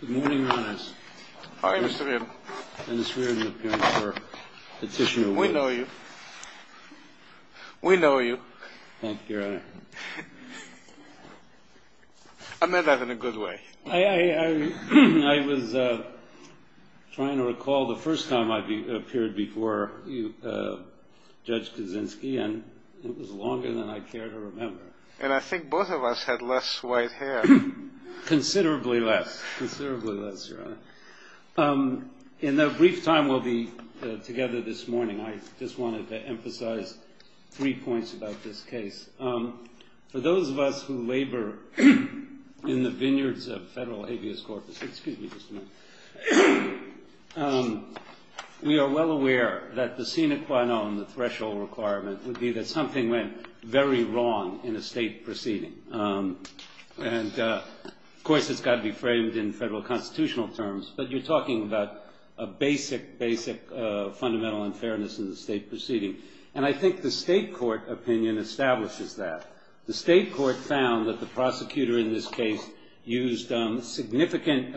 Good morning, Your Honor. How are you, Mr. Reardon? Mr. Reardon, the appearance of Petitioner Woods. We know you. We know you. Thank you, Your Honor. I meant that in a good way. I was trying to recall the first time I appeared before Judge Kaczynski, and it was longer than I care to remember. And I think both of us had less white hair. Considerably less. Considerably less, Your Honor. In the brief time we'll be together this morning, I just wanted to emphasize three points about this case. For those of us who labor in the vineyards of federal habeas corpus, we are well aware that the sine qua non, the threshold requirement, would be that something went very wrong in a state proceeding. And of course it's got to be framed in federal constitutional terms, but you're talking about a basic, basic fundamental unfairness in the state proceeding. And I think the state court opinion establishes that. The state court found that the prosecutor in this case used significant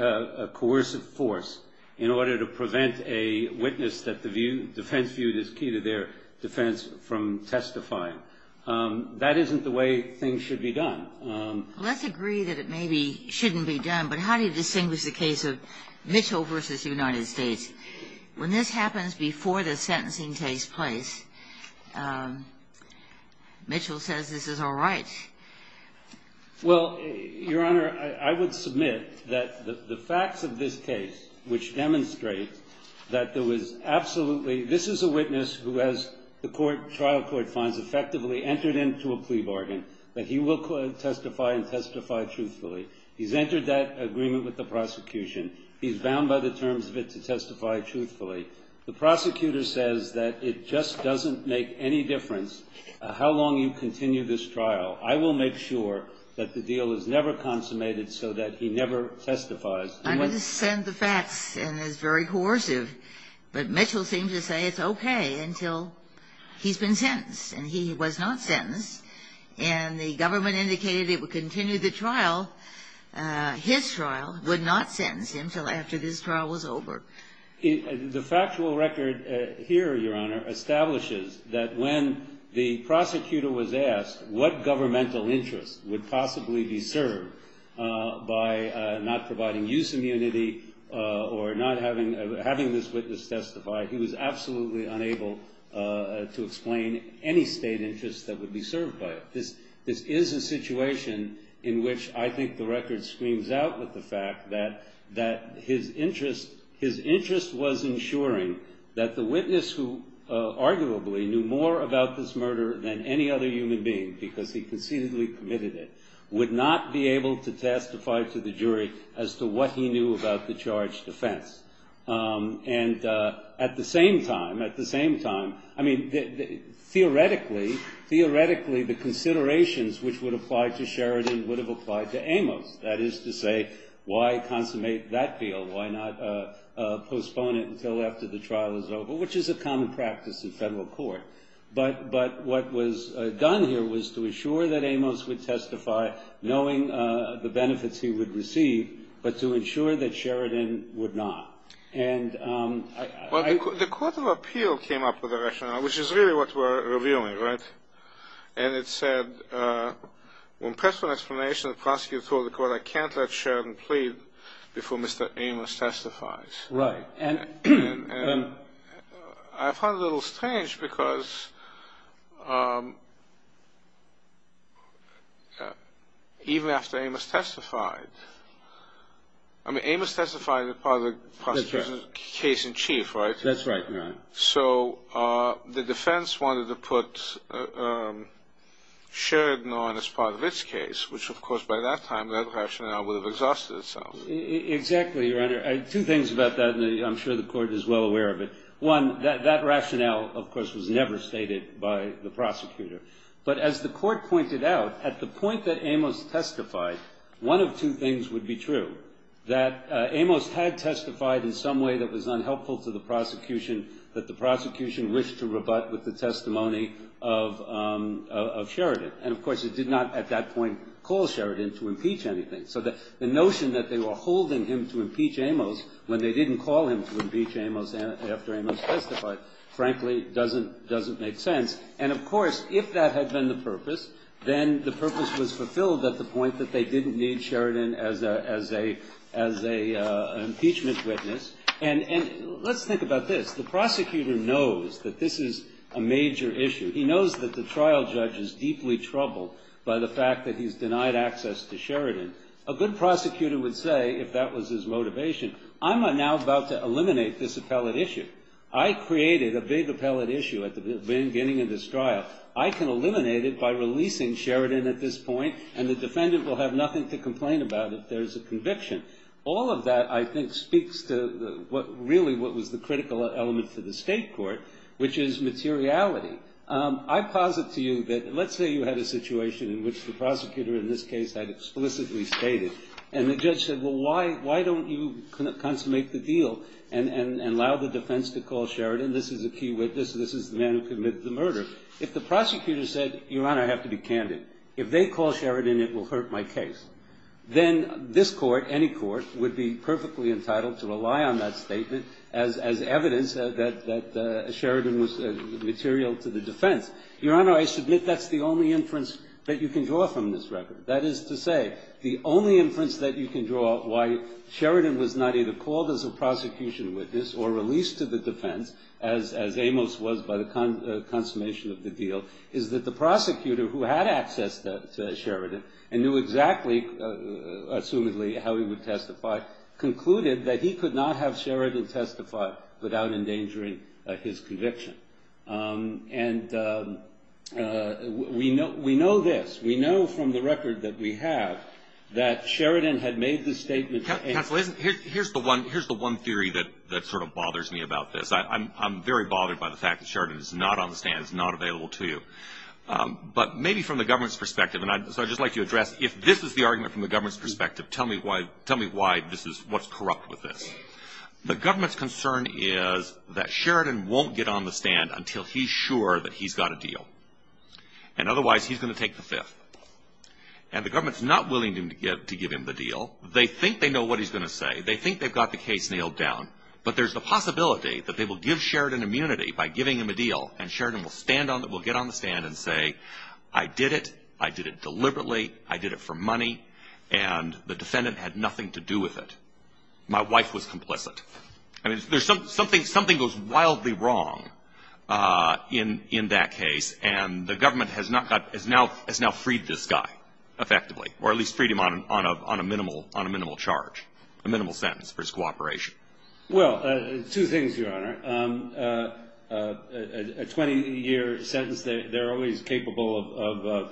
coercive force in order to prevent a witness that the defense viewed as key to their defense from testifying. That isn't the way things should be done. Well, let's agree that it maybe shouldn't be done, but how do you distinguish the case of Mitchell v. United States? When this happens before the sentencing takes place, Mitchell says this is all right. Well, Your Honor, I would submit that the facts of this case, which demonstrate that there was absolutely, this is a witness who has, the trial court finds, effectively entered into a plea bargain, that he will testify and testify truthfully. He's entered that agreement with the prosecution. He's bound by the terms of it to testify truthfully. The prosecutor says that it just doesn't make any difference how long you continue this trial. I will make sure that the deal is never consummated so that he never testifies. I understand the facts and is very coercive, but Mitchell seemed to say it's okay until he's been sentenced, and he was not sentenced, and the government indicated it would continue the trial. His trial would not sentence him until after this trial was over. The factual record here, Your Honor, establishes that when the prosecutor was asked what governmental interest would possibly be served by not providing use immunity or not having this witness testify, he was absolutely unable to explain any state interest that would be served by it. This is a situation in which I think the record screams out with the fact that his interest was ensuring that the witness who arguably knew more about this murder than any other human being because he conceitedly committed it, would not be able to testify to the jury as to what he knew about the charged offense. And at the same time, I mean, theoretically, the considerations which would apply to Sheridan would have applied to Amos. That is to say, why consummate that deal? Why not postpone it until after the trial is over, which is a common practice in federal court. But what was done here was to ensure that Amos would testify, knowing the benefits he would receive, but to ensure that Sheridan would not. And I... Well, the Court of Appeal came up with a rationale, which is really what we're reviewing, right? And it said, when pressed for an explanation, the prosecutor told the court, I can't let Sheridan plead before Mr. Amos testifies. Right. And I find it a little strange because... even after Amos testified... I mean, Amos testified as part of the prosecutor's case in chief, right? That's right, Your Honor. So the defense wanted to put Sheridan on as part of its case, which, of course, by that time, that rationale would have exhausted itself. Exactly, Your Honor. Two things about that, and I'm sure the Court is well aware of it. One, that rationale, of course, was never stated by the prosecutor. But as the Court pointed out, at the point that Amos testified, one of two things would be true, that Amos had testified in some way that was unhelpful to the prosecution, that the prosecution wished to rebut with the testimony of Sheridan. And, of course, it did not at that point call Sheridan to impeach anything. So the notion that they were holding him to impeach Amos when they didn't call him to impeach Amos after Amos testified, frankly, doesn't make sense. And, of course, if that had been the purpose, then the purpose was fulfilled at the point that they didn't need Sheridan as an impeachment witness. And let's think about this. The prosecutor knows that this is a major issue. He knows that the trial judge is deeply troubled by the fact that he's denied access to Sheridan. A good prosecutor would say, if that was his motivation, I'm now about to eliminate this appellate issue. I created a big appellate issue at the beginning of this trial. I can eliminate it by releasing Sheridan at this point, and the defendant will have nothing to complain about if there's a conviction. All of that, I think, speaks to really what was the critical element for the State Court, which is materiality. But I posit to you that let's say you had a situation in which the prosecutor in this case had explicitly stated, and the judge said, well, why don't you consummate the deal and allow the defense to call Sheridan? This is a key witness. This is the man who committed the murder. If the prosecutor said, Your Honor, I have to be candid. If they call Sheridan, it will hurt my case. Then this court, any court, would be perfectly entitled to rely on that statement as evidence that Sheridan was material to the defense. Your Honor, I submit that's the only inference that you can draw from this record. That is to say, the only inference that you can draw why Sheridan was not either called as a prosecution witness or released to the defense, as Amos was by the consummation of the deal, is that the prosecutor who had access to Sheridan and knew exactly, assumedly, how he would testify, concluded that he could not have Sheridan testify without endangering his conviction. And we know this. We know from the record that we have that Sheridan had made the statement. Counsel, here's the one theory that sort of bothers me about this. I'm very bothered by the fact that Sheridan is not on the stand, is not available to you. But maybe from the government's perspective, and so I'd just like to address, if this is the argument from the government's perspective, tell me why this is what's corrupt with this. The government's concern is that Sheridan won't get on the stand until he's sure that he's got a deal. And otherwise, he's going to take the fifth. And the government's not willing to give him the deal. They think they know what he's going to say. They think they've got the case nailed down. But there's the possibility that they will give Sheridan immunity by giving him a deal, and Sheridan will get on the stand and say, I did it, I did it deliberately, I did it for money, and the defendant had nothing to do with it. My wife was complicit. I mean, something goes wildly wrong in that case, and the government has now freed this guy effectively, or at least freed him on a minimal charge, a minimal sentence for his cooperation. Well, two things, Your Honor. A 20-year sentence, they're always capable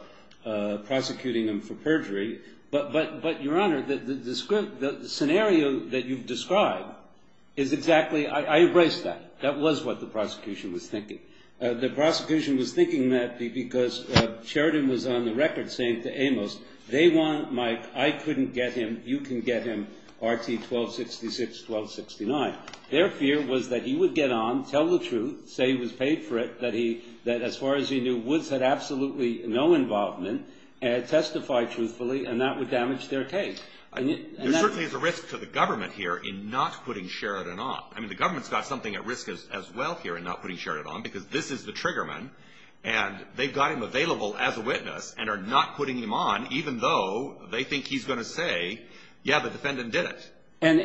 of prosecuting him for perjury. But, Your Honor, the scenario that you've described is exactly – I embrace that. That was what the prosecution was thinking. The prosecution was thinking that because Sheridan was on the record saying to Amos, they want my – I couldn't get him, you can get him, RT 1266-1269. Their fear was that he would get on, tell the truth, say he was paid for it, that as far as he knew Woods had absolutely no involvement, testify truthfully, and that would damage their case. There certainly is a risk to the government here in not putting Sheridan on. I mean, the government's got something at risk as well here in not putting Sheridan on, because this is the triggerman, and they've got him available as a witness and are not putting him on, even though they think he's going to say, yeah, the defendant did it. And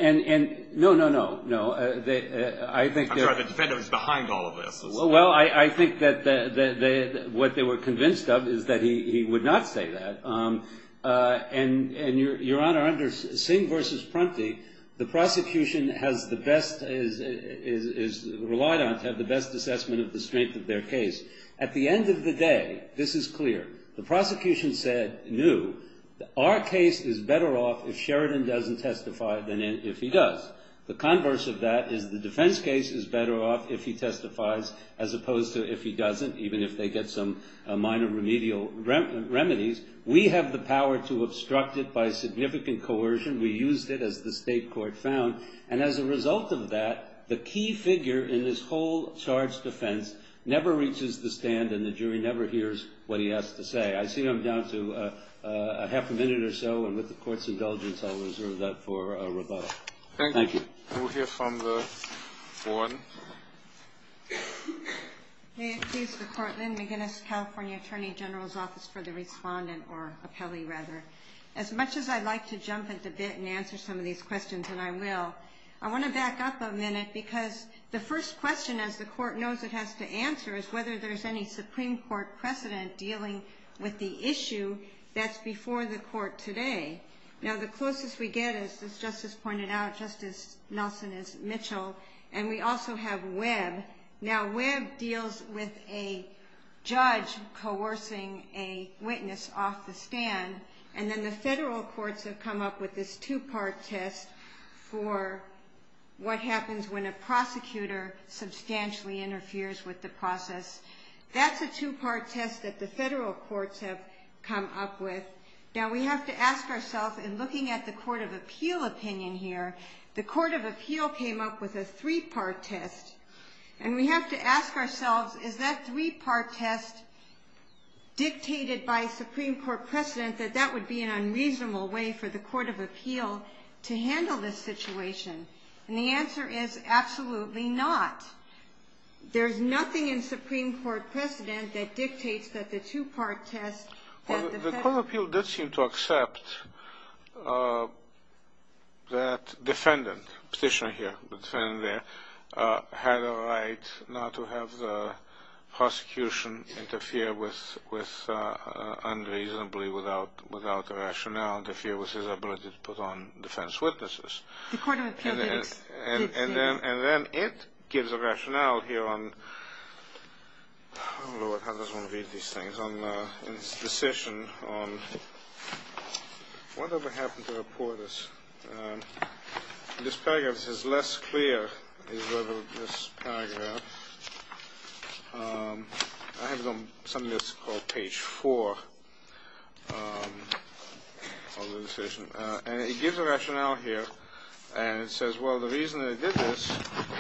– no, no, no, no. I'm sorry, the defendant was behind all of this. Well, I think that what they were convinced of is that he would not say that. And, Your Honor, under Singh v. Prunty, the prosecution has the best – is relied on to have the best assessment of the strength of their case. At the end of the day, this is clear. The prosecution said new, our case is better off if Sheridan doesn't testify than if he does. The converse of that is the defense case is better off if he testifies as opposed to if he doesn't, even if they get some minor remedial remedies. We have the power to obstruct it by significant coercion. We used it, as the state court found. And as a result of that, the key figure in this whole charge defense never reaches the stand and the jury never hears what he has to say. I see I'm down to a half a minute or so, and with the Court's indulgence, I'll reserve that for rebuttal. Thank you. Thank you. We'll hear from the warden. May it please the Court, Lynn McGinnis, California Attorney General's Office for the Respondent, or appellee, rather. As much as I'd like to jump at the bit and answer some of these questions, and I will, I want to back up a minute because the first question, as the Court knows it has to answer, is whether there's any Supreme Court precedent dealing with the issue that's before the Court today. Now, the closest we get, as Justice pointed out, Justice Nelson is Mitchell, and we also have Webb. Now, Webb deals with a judge coercing a witness off the stand, and then the federal courts have come up with this two-part test for what happens when a prosecutor substantially interferes with the process. That's a two-part test that the federal courts have come up with. Now, we have to ask ourselves, in looking at the Court of Appeal opinion here, the Court of Appeal came up with a three-part test, and we have to ask ourselves, is that three-part test dictated by Supreme Court precedent that that would be an unreasonable way for the Court of Appeal to handle this situation? And the answer is absolutely not. There's nothing in Supreme Court precedent that dictates that the two-part test that the federal courts did seem to accept that defendant, petitioner here, defendant there, had a right not to have the prosecution interfere unreasonably without a rationale, interfere with his ability to put on defense witnesses. The Court of Appeal did say that. And then it gives a rationale here on the decision on whatever happened to reporters. This paragraph is less clear than this paragraph. I have it on something that's called page 4 of the decision. And it gives a rationale here, and it says, well, the reason they did this,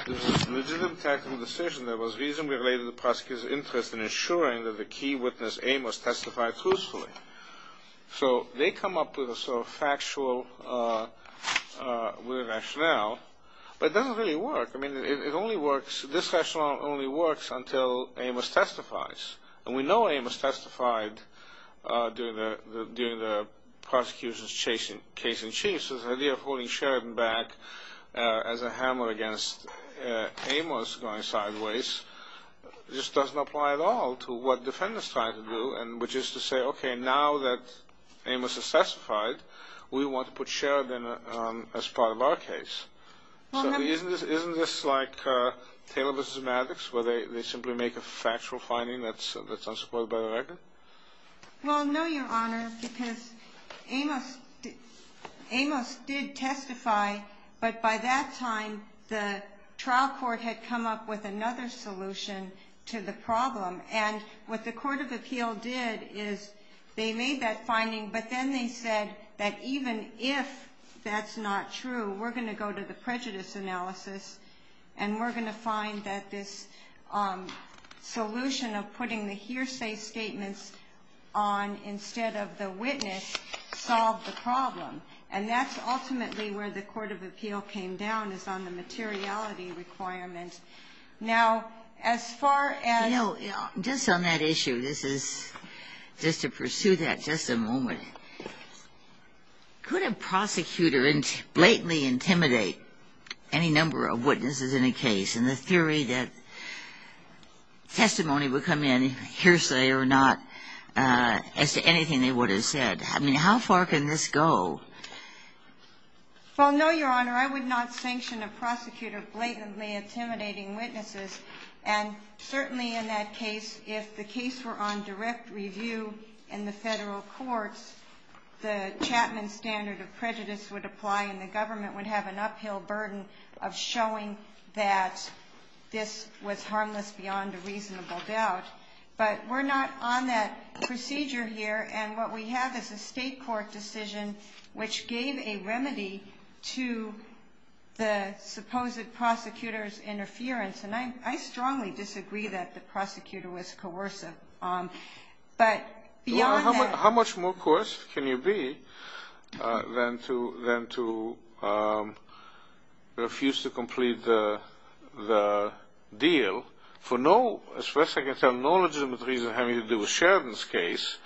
this is a legitimate tactical decision that was reasonably related to the prosecutor's interest in ensuring that the key witness, Amos, testified truthfully. So they come up with a sort of factual rationale, but it doesn't really work. I mean, it only works, this rationale only works until Amos testifies. And we know Amos testified during the prosecution's case in chief. So the idea of holding Sheridan back as a hammer against Amos going sideways just doesn't apply at all to what defendants try to do, which is to say, okay, now that Amos has testified, we want to put Sheridan as part of our case. Isn't this like Taylor v. Maddox, where they simply make a factual finding that's unsupported by the record? Well, no, Your Honor, because Amos did testify, but by that time, the trial court had come up with another solution to the problem. And what the court of appeal did is they made that finding, but then they said that even if that's not true, we're going to go to the prejudice analysis, and we're going to find that this solution of putting the hearsay statements on instead of the witness solved the problem. And that's ultimately where the court of appeal came down, is on the materiality requirement. Now, as far as ---- I'm going to ask you, this is just to pursue that just a moment. Could a prosecutor blatantly intimidate any number of witnesses in a case, and the theory that testimony would come in, hearsay or not, as to anything they would have said? I mean, how far can this go? Well, no, Your Honor, I would not sanction a prosecutor blatantly intimidating witnesses. And certainly in that case, if the case were on direct review in the federal courts, the Chapman standard of prejudice would apply, and the government would have an uphill burden of showing that this was harmless beyond a reasonable doubt. But we're not on that procedure here, and what we have is a state court decision which gave a remedy to the supposed prosecutor's interference. And I strongly disagree that the prosecutor was coercive. But beyond that ---- Your Honor, how much more coerced can you be than to refuse to complete the deal for no ---- as far as I can tell, no legitimate reason having to do with Sheridan's case,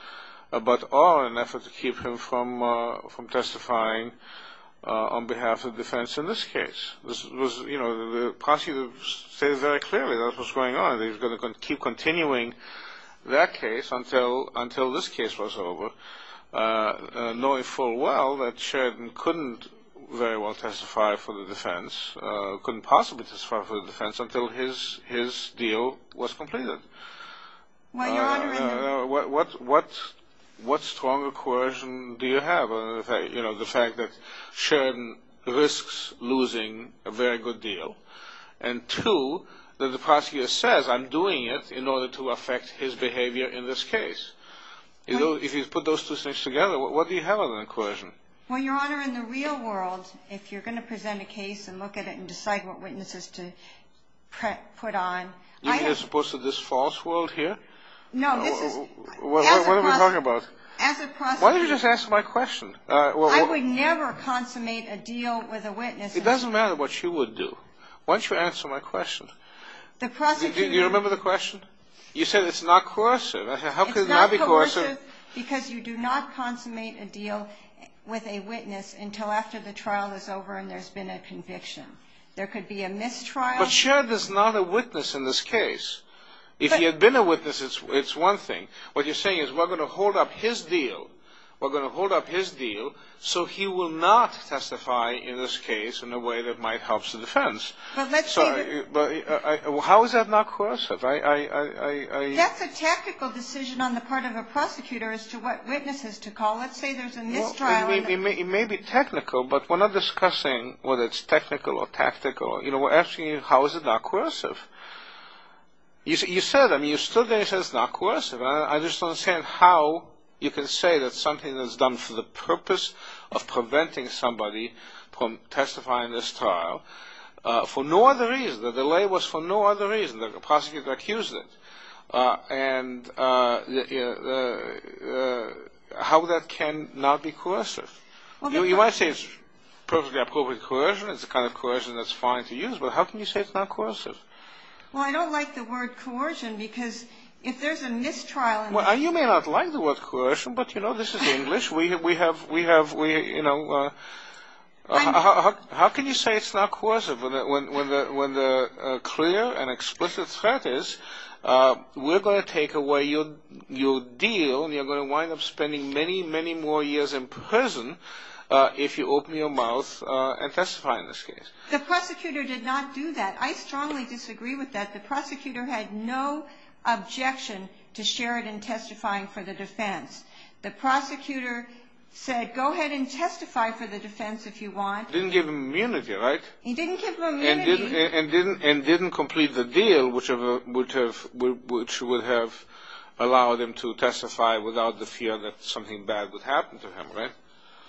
but all in an effort to keep him from testifying on behalf of defense in this case. The prosecutor stated very clearly what was going on. He was going to keep continuing that case until this case was over, knowing full well that Sheridan couldn't very well testify for the defense, couldn't possibly testify for the defense until his deal was completed. Well, Your Honor, in the ---- What stronger coercion do you have? The fact that Sheridan risks losing a very good deal, and two, that the prosecutor says, I'm doing it in order to affect his behavior in this case. If you put those two things together, what do you have other than coercion? Well, Your Honor, in the real world, if you're going to present a case and look at it and decide what witnesses to put on ---- You mean as opposed to this false world here? No, this is ---- What are we talking about? Why don't you just answer my question? I would never consummate a deal with a witness. It doesn't matter what you would do. Why don't you answer my question? The prosecutor ---- Do you remember the question? You said it's not coercive. It's not coercive because you do not consummate a deal with a witness until after the trial is over and there's been a conviction. There could be a mistrial. But Sheridan's not a witness in this case. If he had been a witness, it's one thing. What you're saying is we're going to hold up his deal. We're going to hold up his deal so he will not testify in this case in a way that might help the defense. How is that not coercive? That's a technical decision on the part of a prosecutor as to what witnesses to call. Let's say there's a mistrial. It may be technical, but we're not discussing whether it's technical or tactical. We're asking you how is it not coercive? You said, I mean, you stood there and said it's not coercive. I just don't understand how you can say that something that's done for the purpose of preventing somebody from testifying in this trial for no other reason. The delay was for no other reason. The prosecutor accused it. And how that can not be coercive? You might say it's perfectly appropriate coercion. It's the kind of coercion that's fine to use. But how can you say it's not coercive? Well, I don't like the word coercion because if there's a mistrial in this case. Well, you may not like the word coercion, but, you know, this is English. How can you say it's not coercive when the clear and explicit threat is we're going to take away your deal and you're going to wind up spending many, many more years in prison if you open your mouth and testify in this case. The prosecutor did not do that. I strongly disagree with that. The prosecutor had no objection to Sheridan testifying for the defense. The prosecutor said, go ahead and testify for the defense if you want. Didn't give him immunity, right? He didn't give him immunity. And didn't complete the deal, which would have allowed him to testify without the fear that something bad would happen to him, right?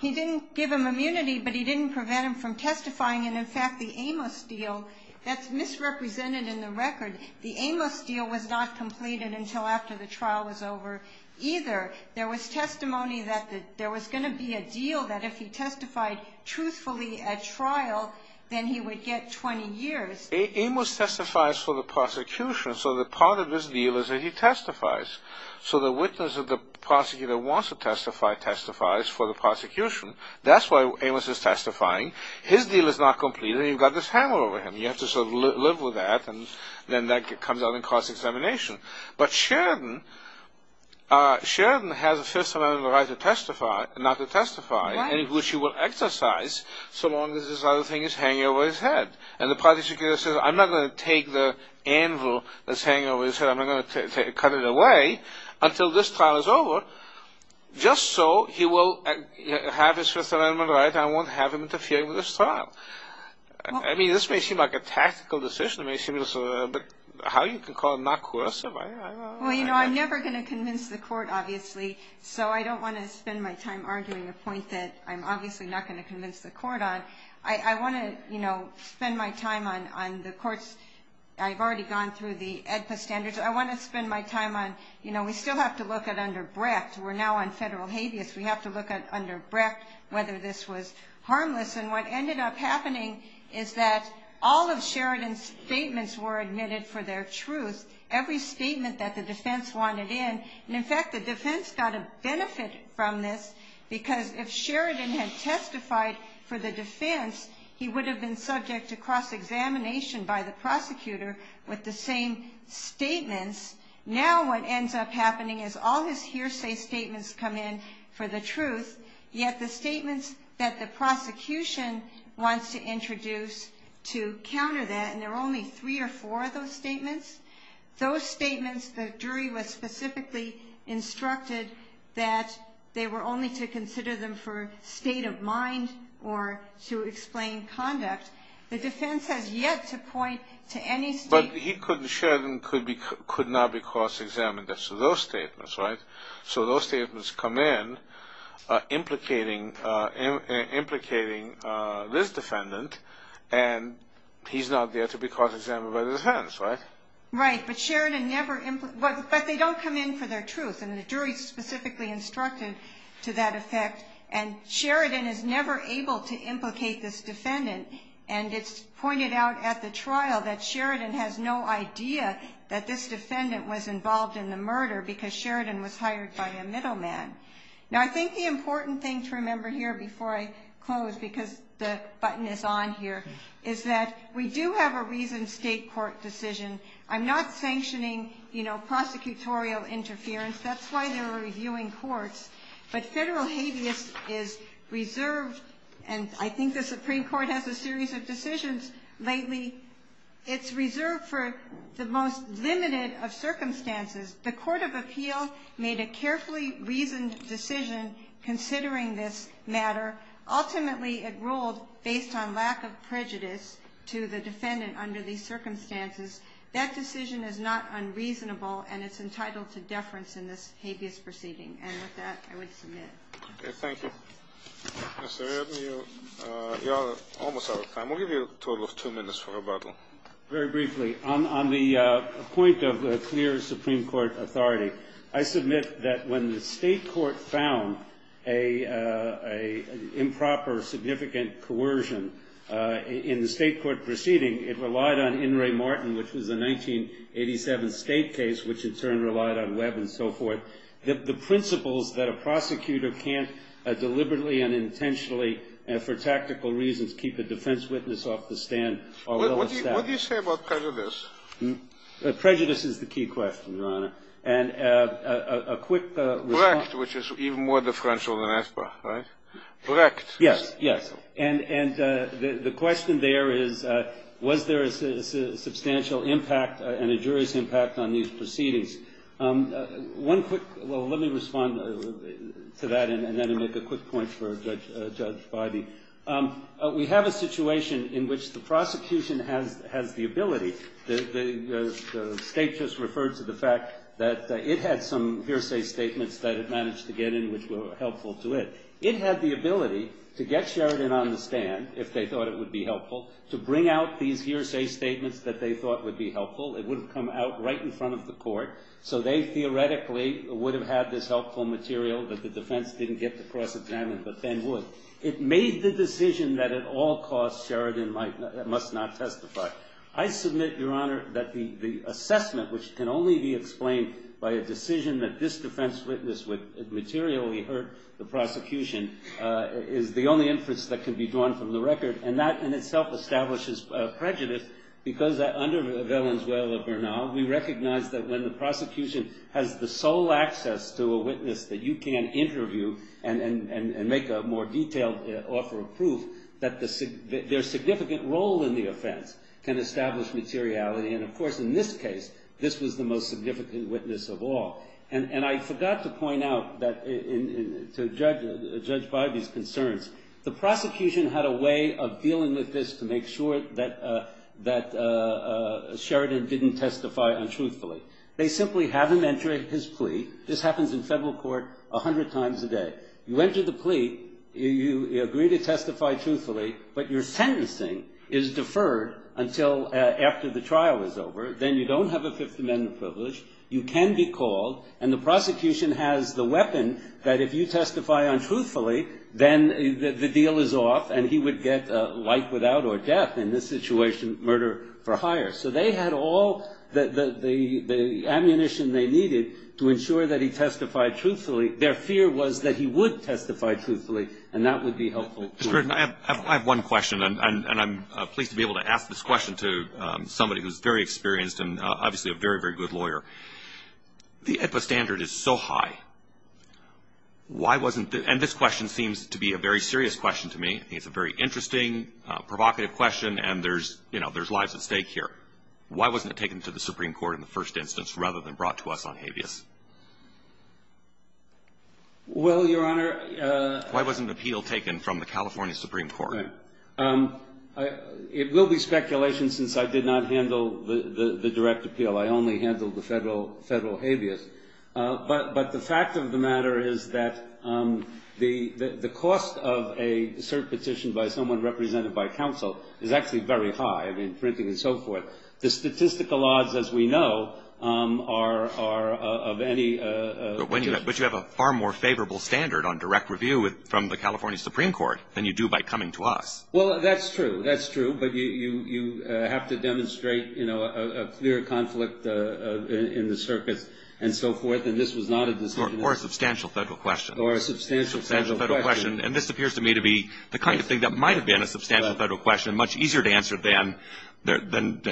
He didn't give him immunity, but he didn't prevent him from testifying. And, in fact, the Amos deal, that's misrepresented in the record. The Amos deal was not completed until after the trial was over either. There was testimony that there was going to be a deal that if he testified truthfully at trial, then he would get 20 years. Amos testifies for the prosecution, so the part of his deal is that he testifies. So the witness of the prosecutor wants to testify testifies for the prosecution. That's why Amos is testifying. His deal is not completed, and you've got this hammer over him. You have to sort of live with that, and then that comes out in cross-examination. But Sheridan has a Fifth Amendment right not to testify, which he will exercise so long as this other thing is hanging over his head. And the prosecutor says, I'm not going to take the anvil that's hanging over his head. I'm not going to cut it away until this trial is over, just so he will have his Fifth Amendment right. I won't have him interfere with this trial. I mean, this may seem like a tactical decision. It may seem a little bit how you can call it not coercive. Well, you know, I'm never going to convince the court, obviously. So I don't want to spend my time arguing a point that I'm obviously not going to convince the court on. I want to, you know, spend my time on the courts. I've already gone through the AEDPA standards. I want to spend my time on, you know, we still have to look at under Brecht. We're now on federal habeas. We have to look under Brecht whether this was harmless. And what ended up happening is that all of Sheridan's statements were admitted for their truth. Every statement that the defense wanted in. And, in fact, the defense got a benefit from this because if Sheridan had testified for the defense, he would have been subject to cross-examination by the prosecutor with the same statements. Now what ends up happening is all his hearsay statements come in for the truth, yet the statements that the prosecution wants to introduce to counter that, and there are only three or four of those statements, those statements the jury was specifically instructed that they were only to consider them for state of mind or to explain conduct. The defense has yet to point to any statement. But Sheridan could not be cross-examined as to those statements, right? So those statements come in implicating this defendant, and he's not there to be cross-examined by the defense, right? Right, but they don't come in for their truth, and the jury's specifically instructed to that effect. And Sheridan is never able to implicate this defendant, and it's pointed out at the trial that Sheridan has no idea that this defendant was involved in the murder because Sheridan was hired by a middleman. Now I think the important thing to remember here before I close, because the button is on here, is that we do have a reasoned state court decision. I'm not sanctioning, you know, prosecutorial interference. That's why they're reviewing courts. But federal habeas is reserved, and I think the Supreme Court has a series of decisions lately. It's reserved for the most limited of circumstances. The court of appeal made a carefully reasoned decision considering this matter. Ultimately, it ruled based on lack of prejudice to the defendant under these circumstances. That decision is not unreasonable, and it's entitled to deference in this habeas proceeding. And with that, I would submit. Okay, thank you. Mr. Redden, you're almost out of time. We'll give you a total of two minutes for rebuttal. Very briefly, on the point of clear Supreme Court authority, I submit that when the state court found an improper, significant coercion in the state court proceeding, it relied on In re Martin, which was a 1987 state case, which in turn relied on Webb and so forth. The principles that a prosecutor can't deliberately and intentionally and for tactical reasons keep a defense witness off the stand are well established. What do you say about prejudice? Prejudice is the key question, Your Honor. And a quick response. Correct, which is even more differential than ESPA, right? Correct. Yes, yes. And the question there is, was there a substantial impact and a jury's impact on these proceedings? One quick, well, let me respond to that and then make a quick point for Judge Boddy. We have a situation in which the prosecution has the ability. The state just referred to the fact that it had some hearsay statements that it managed to get in which were helpful to it. It had the ability to get Sheridan on the stand, if they thought it would be helpful, to bring out these hearsay statements that they thought would be helpful. It wouldn't come out right in front of the court. So they theoretically would have had this helpful material that the defense didn't get to cross-examine, but then would. It made the decision that at all costs Sheridan must not testify. I submit, Your Honor, that the assessment, which can only be explained by a decision that this defense witness would materially hurt the prosecution, is the only inference that can be drawn from the record. And that in itself establishes prejudice because under Valenzuela-Bernal, we recognize that when the prosecution has the sole access to a witness that you can interview and make a more detailed offer of proof, that their significant role in the offense can establish materiality. And, of course, in this case, this was the most significant witness of all. And I forgot to point out that to judge by these concerns, the prosecution had a way of dealing with this to make sure that Sheridan didn't testify untruthfully. They simply have him enter his plea. This happens in federal court a hundred times a day. You enter the plea. You agree to testify truthfully, but your sentencing is deferred until after the trial is over. Then you don't have a Fifth Amendment privilege. You can be called. And the prosecution has the weapon that if you testify untruthfully, then the deal is off and he would get life without or death. In this situation, murder for hire. So they had all the ammunition they needed to ensure that he testified truthfully. Their fear was that he would testify truthfully, and that would be helpful. Mr. Sheridan, I have one question, and I'm pleased to be able to ask this question to somebody who's very experienced and obviously a very, very good lawyer. The AEDPA standard is so high. Why wasn't the ‑‑ and this question seems to be a very serious question to me. I think it's a very interesting, provocative question, and there's, you know, there's lives at stake here. Why wasn't it taken to the Supreme Court in the first instance rather than brought to us on habeas? Well, Your Honor ‑‑ Why wasn't an appeal taken from the California Supreme Court? Okay. It will be speculation since I did not handle the direct appeal. I only handled the federal habeas. But the fact of the matter is that the cost of a cert petition by someone represented by counsel is actually very high. I mean, printing and so forth. The statistical odds, as we know, are of any ‑‑ But you have a far more favorable standard on direct review from the California Supreme Court than you do by coming to us. Well, that's true. That's true. But you have to demonstrate, you know, a clear conflict in the circuit and so forth, and this was not a decision ‑‑ Or a substantial federal question. Or a substantial federal question. And this appears to me to be the kind of thing that might have been a substantial federal question, much easier to answer than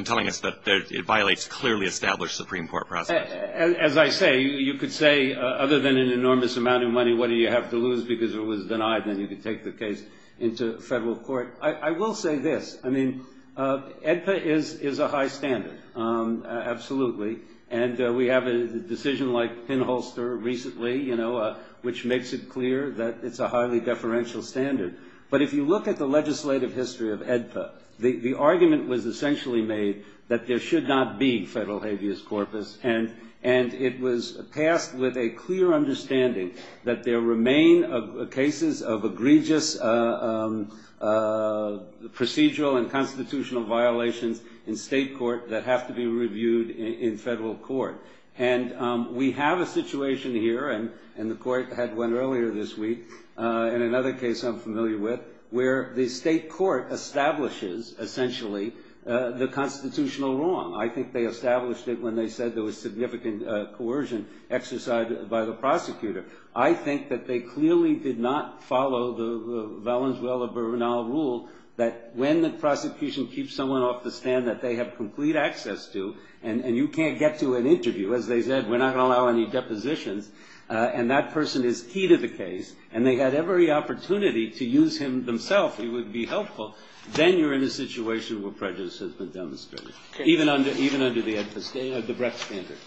telling us that it violates clearly established Supreme Court process. As I say, you could say, other than an enormous amount of money, what do you have to lose because it was denied, then you could take the case into federal court. I will say this. I mean, AEDPA is a high standard. Absolutely. And we have a decision like pinholster recently, you know, which makes it clear that it's a highly deferential standard. But if you look at the legislative history of AEDPA, the argument was essentially made that there should not be federal habeas corpus, and it was passed with a clear understanding that there remain cases of egregious procedural and constitutional violations in state court that have to be reviewed in federal court. And we have a situation here, and the court had one earlier this week, in another case I'm familiar with, where the state court establishes essentially the constitutional wrong. I think they established it when they said there was significant coercion exercised by the prosecutor. I think that they clearly did not follow the Valenzuela-Bernal rule that when the prosecution keeps someone off the stand that they have complete access to, and you can't get to an interview, as they said, we're not going to allow any depositions, and that person is key to the case, and they had every opportunity to use him themselves. It would be helpful. Then you're in a situation where prejudice has been demonstrated, even under the AEDPA standard, the Brex standard.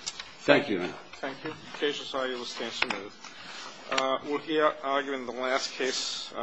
Thank you. Thank you. The case is argued. We'll stand to move. We'll hear argument in the last case.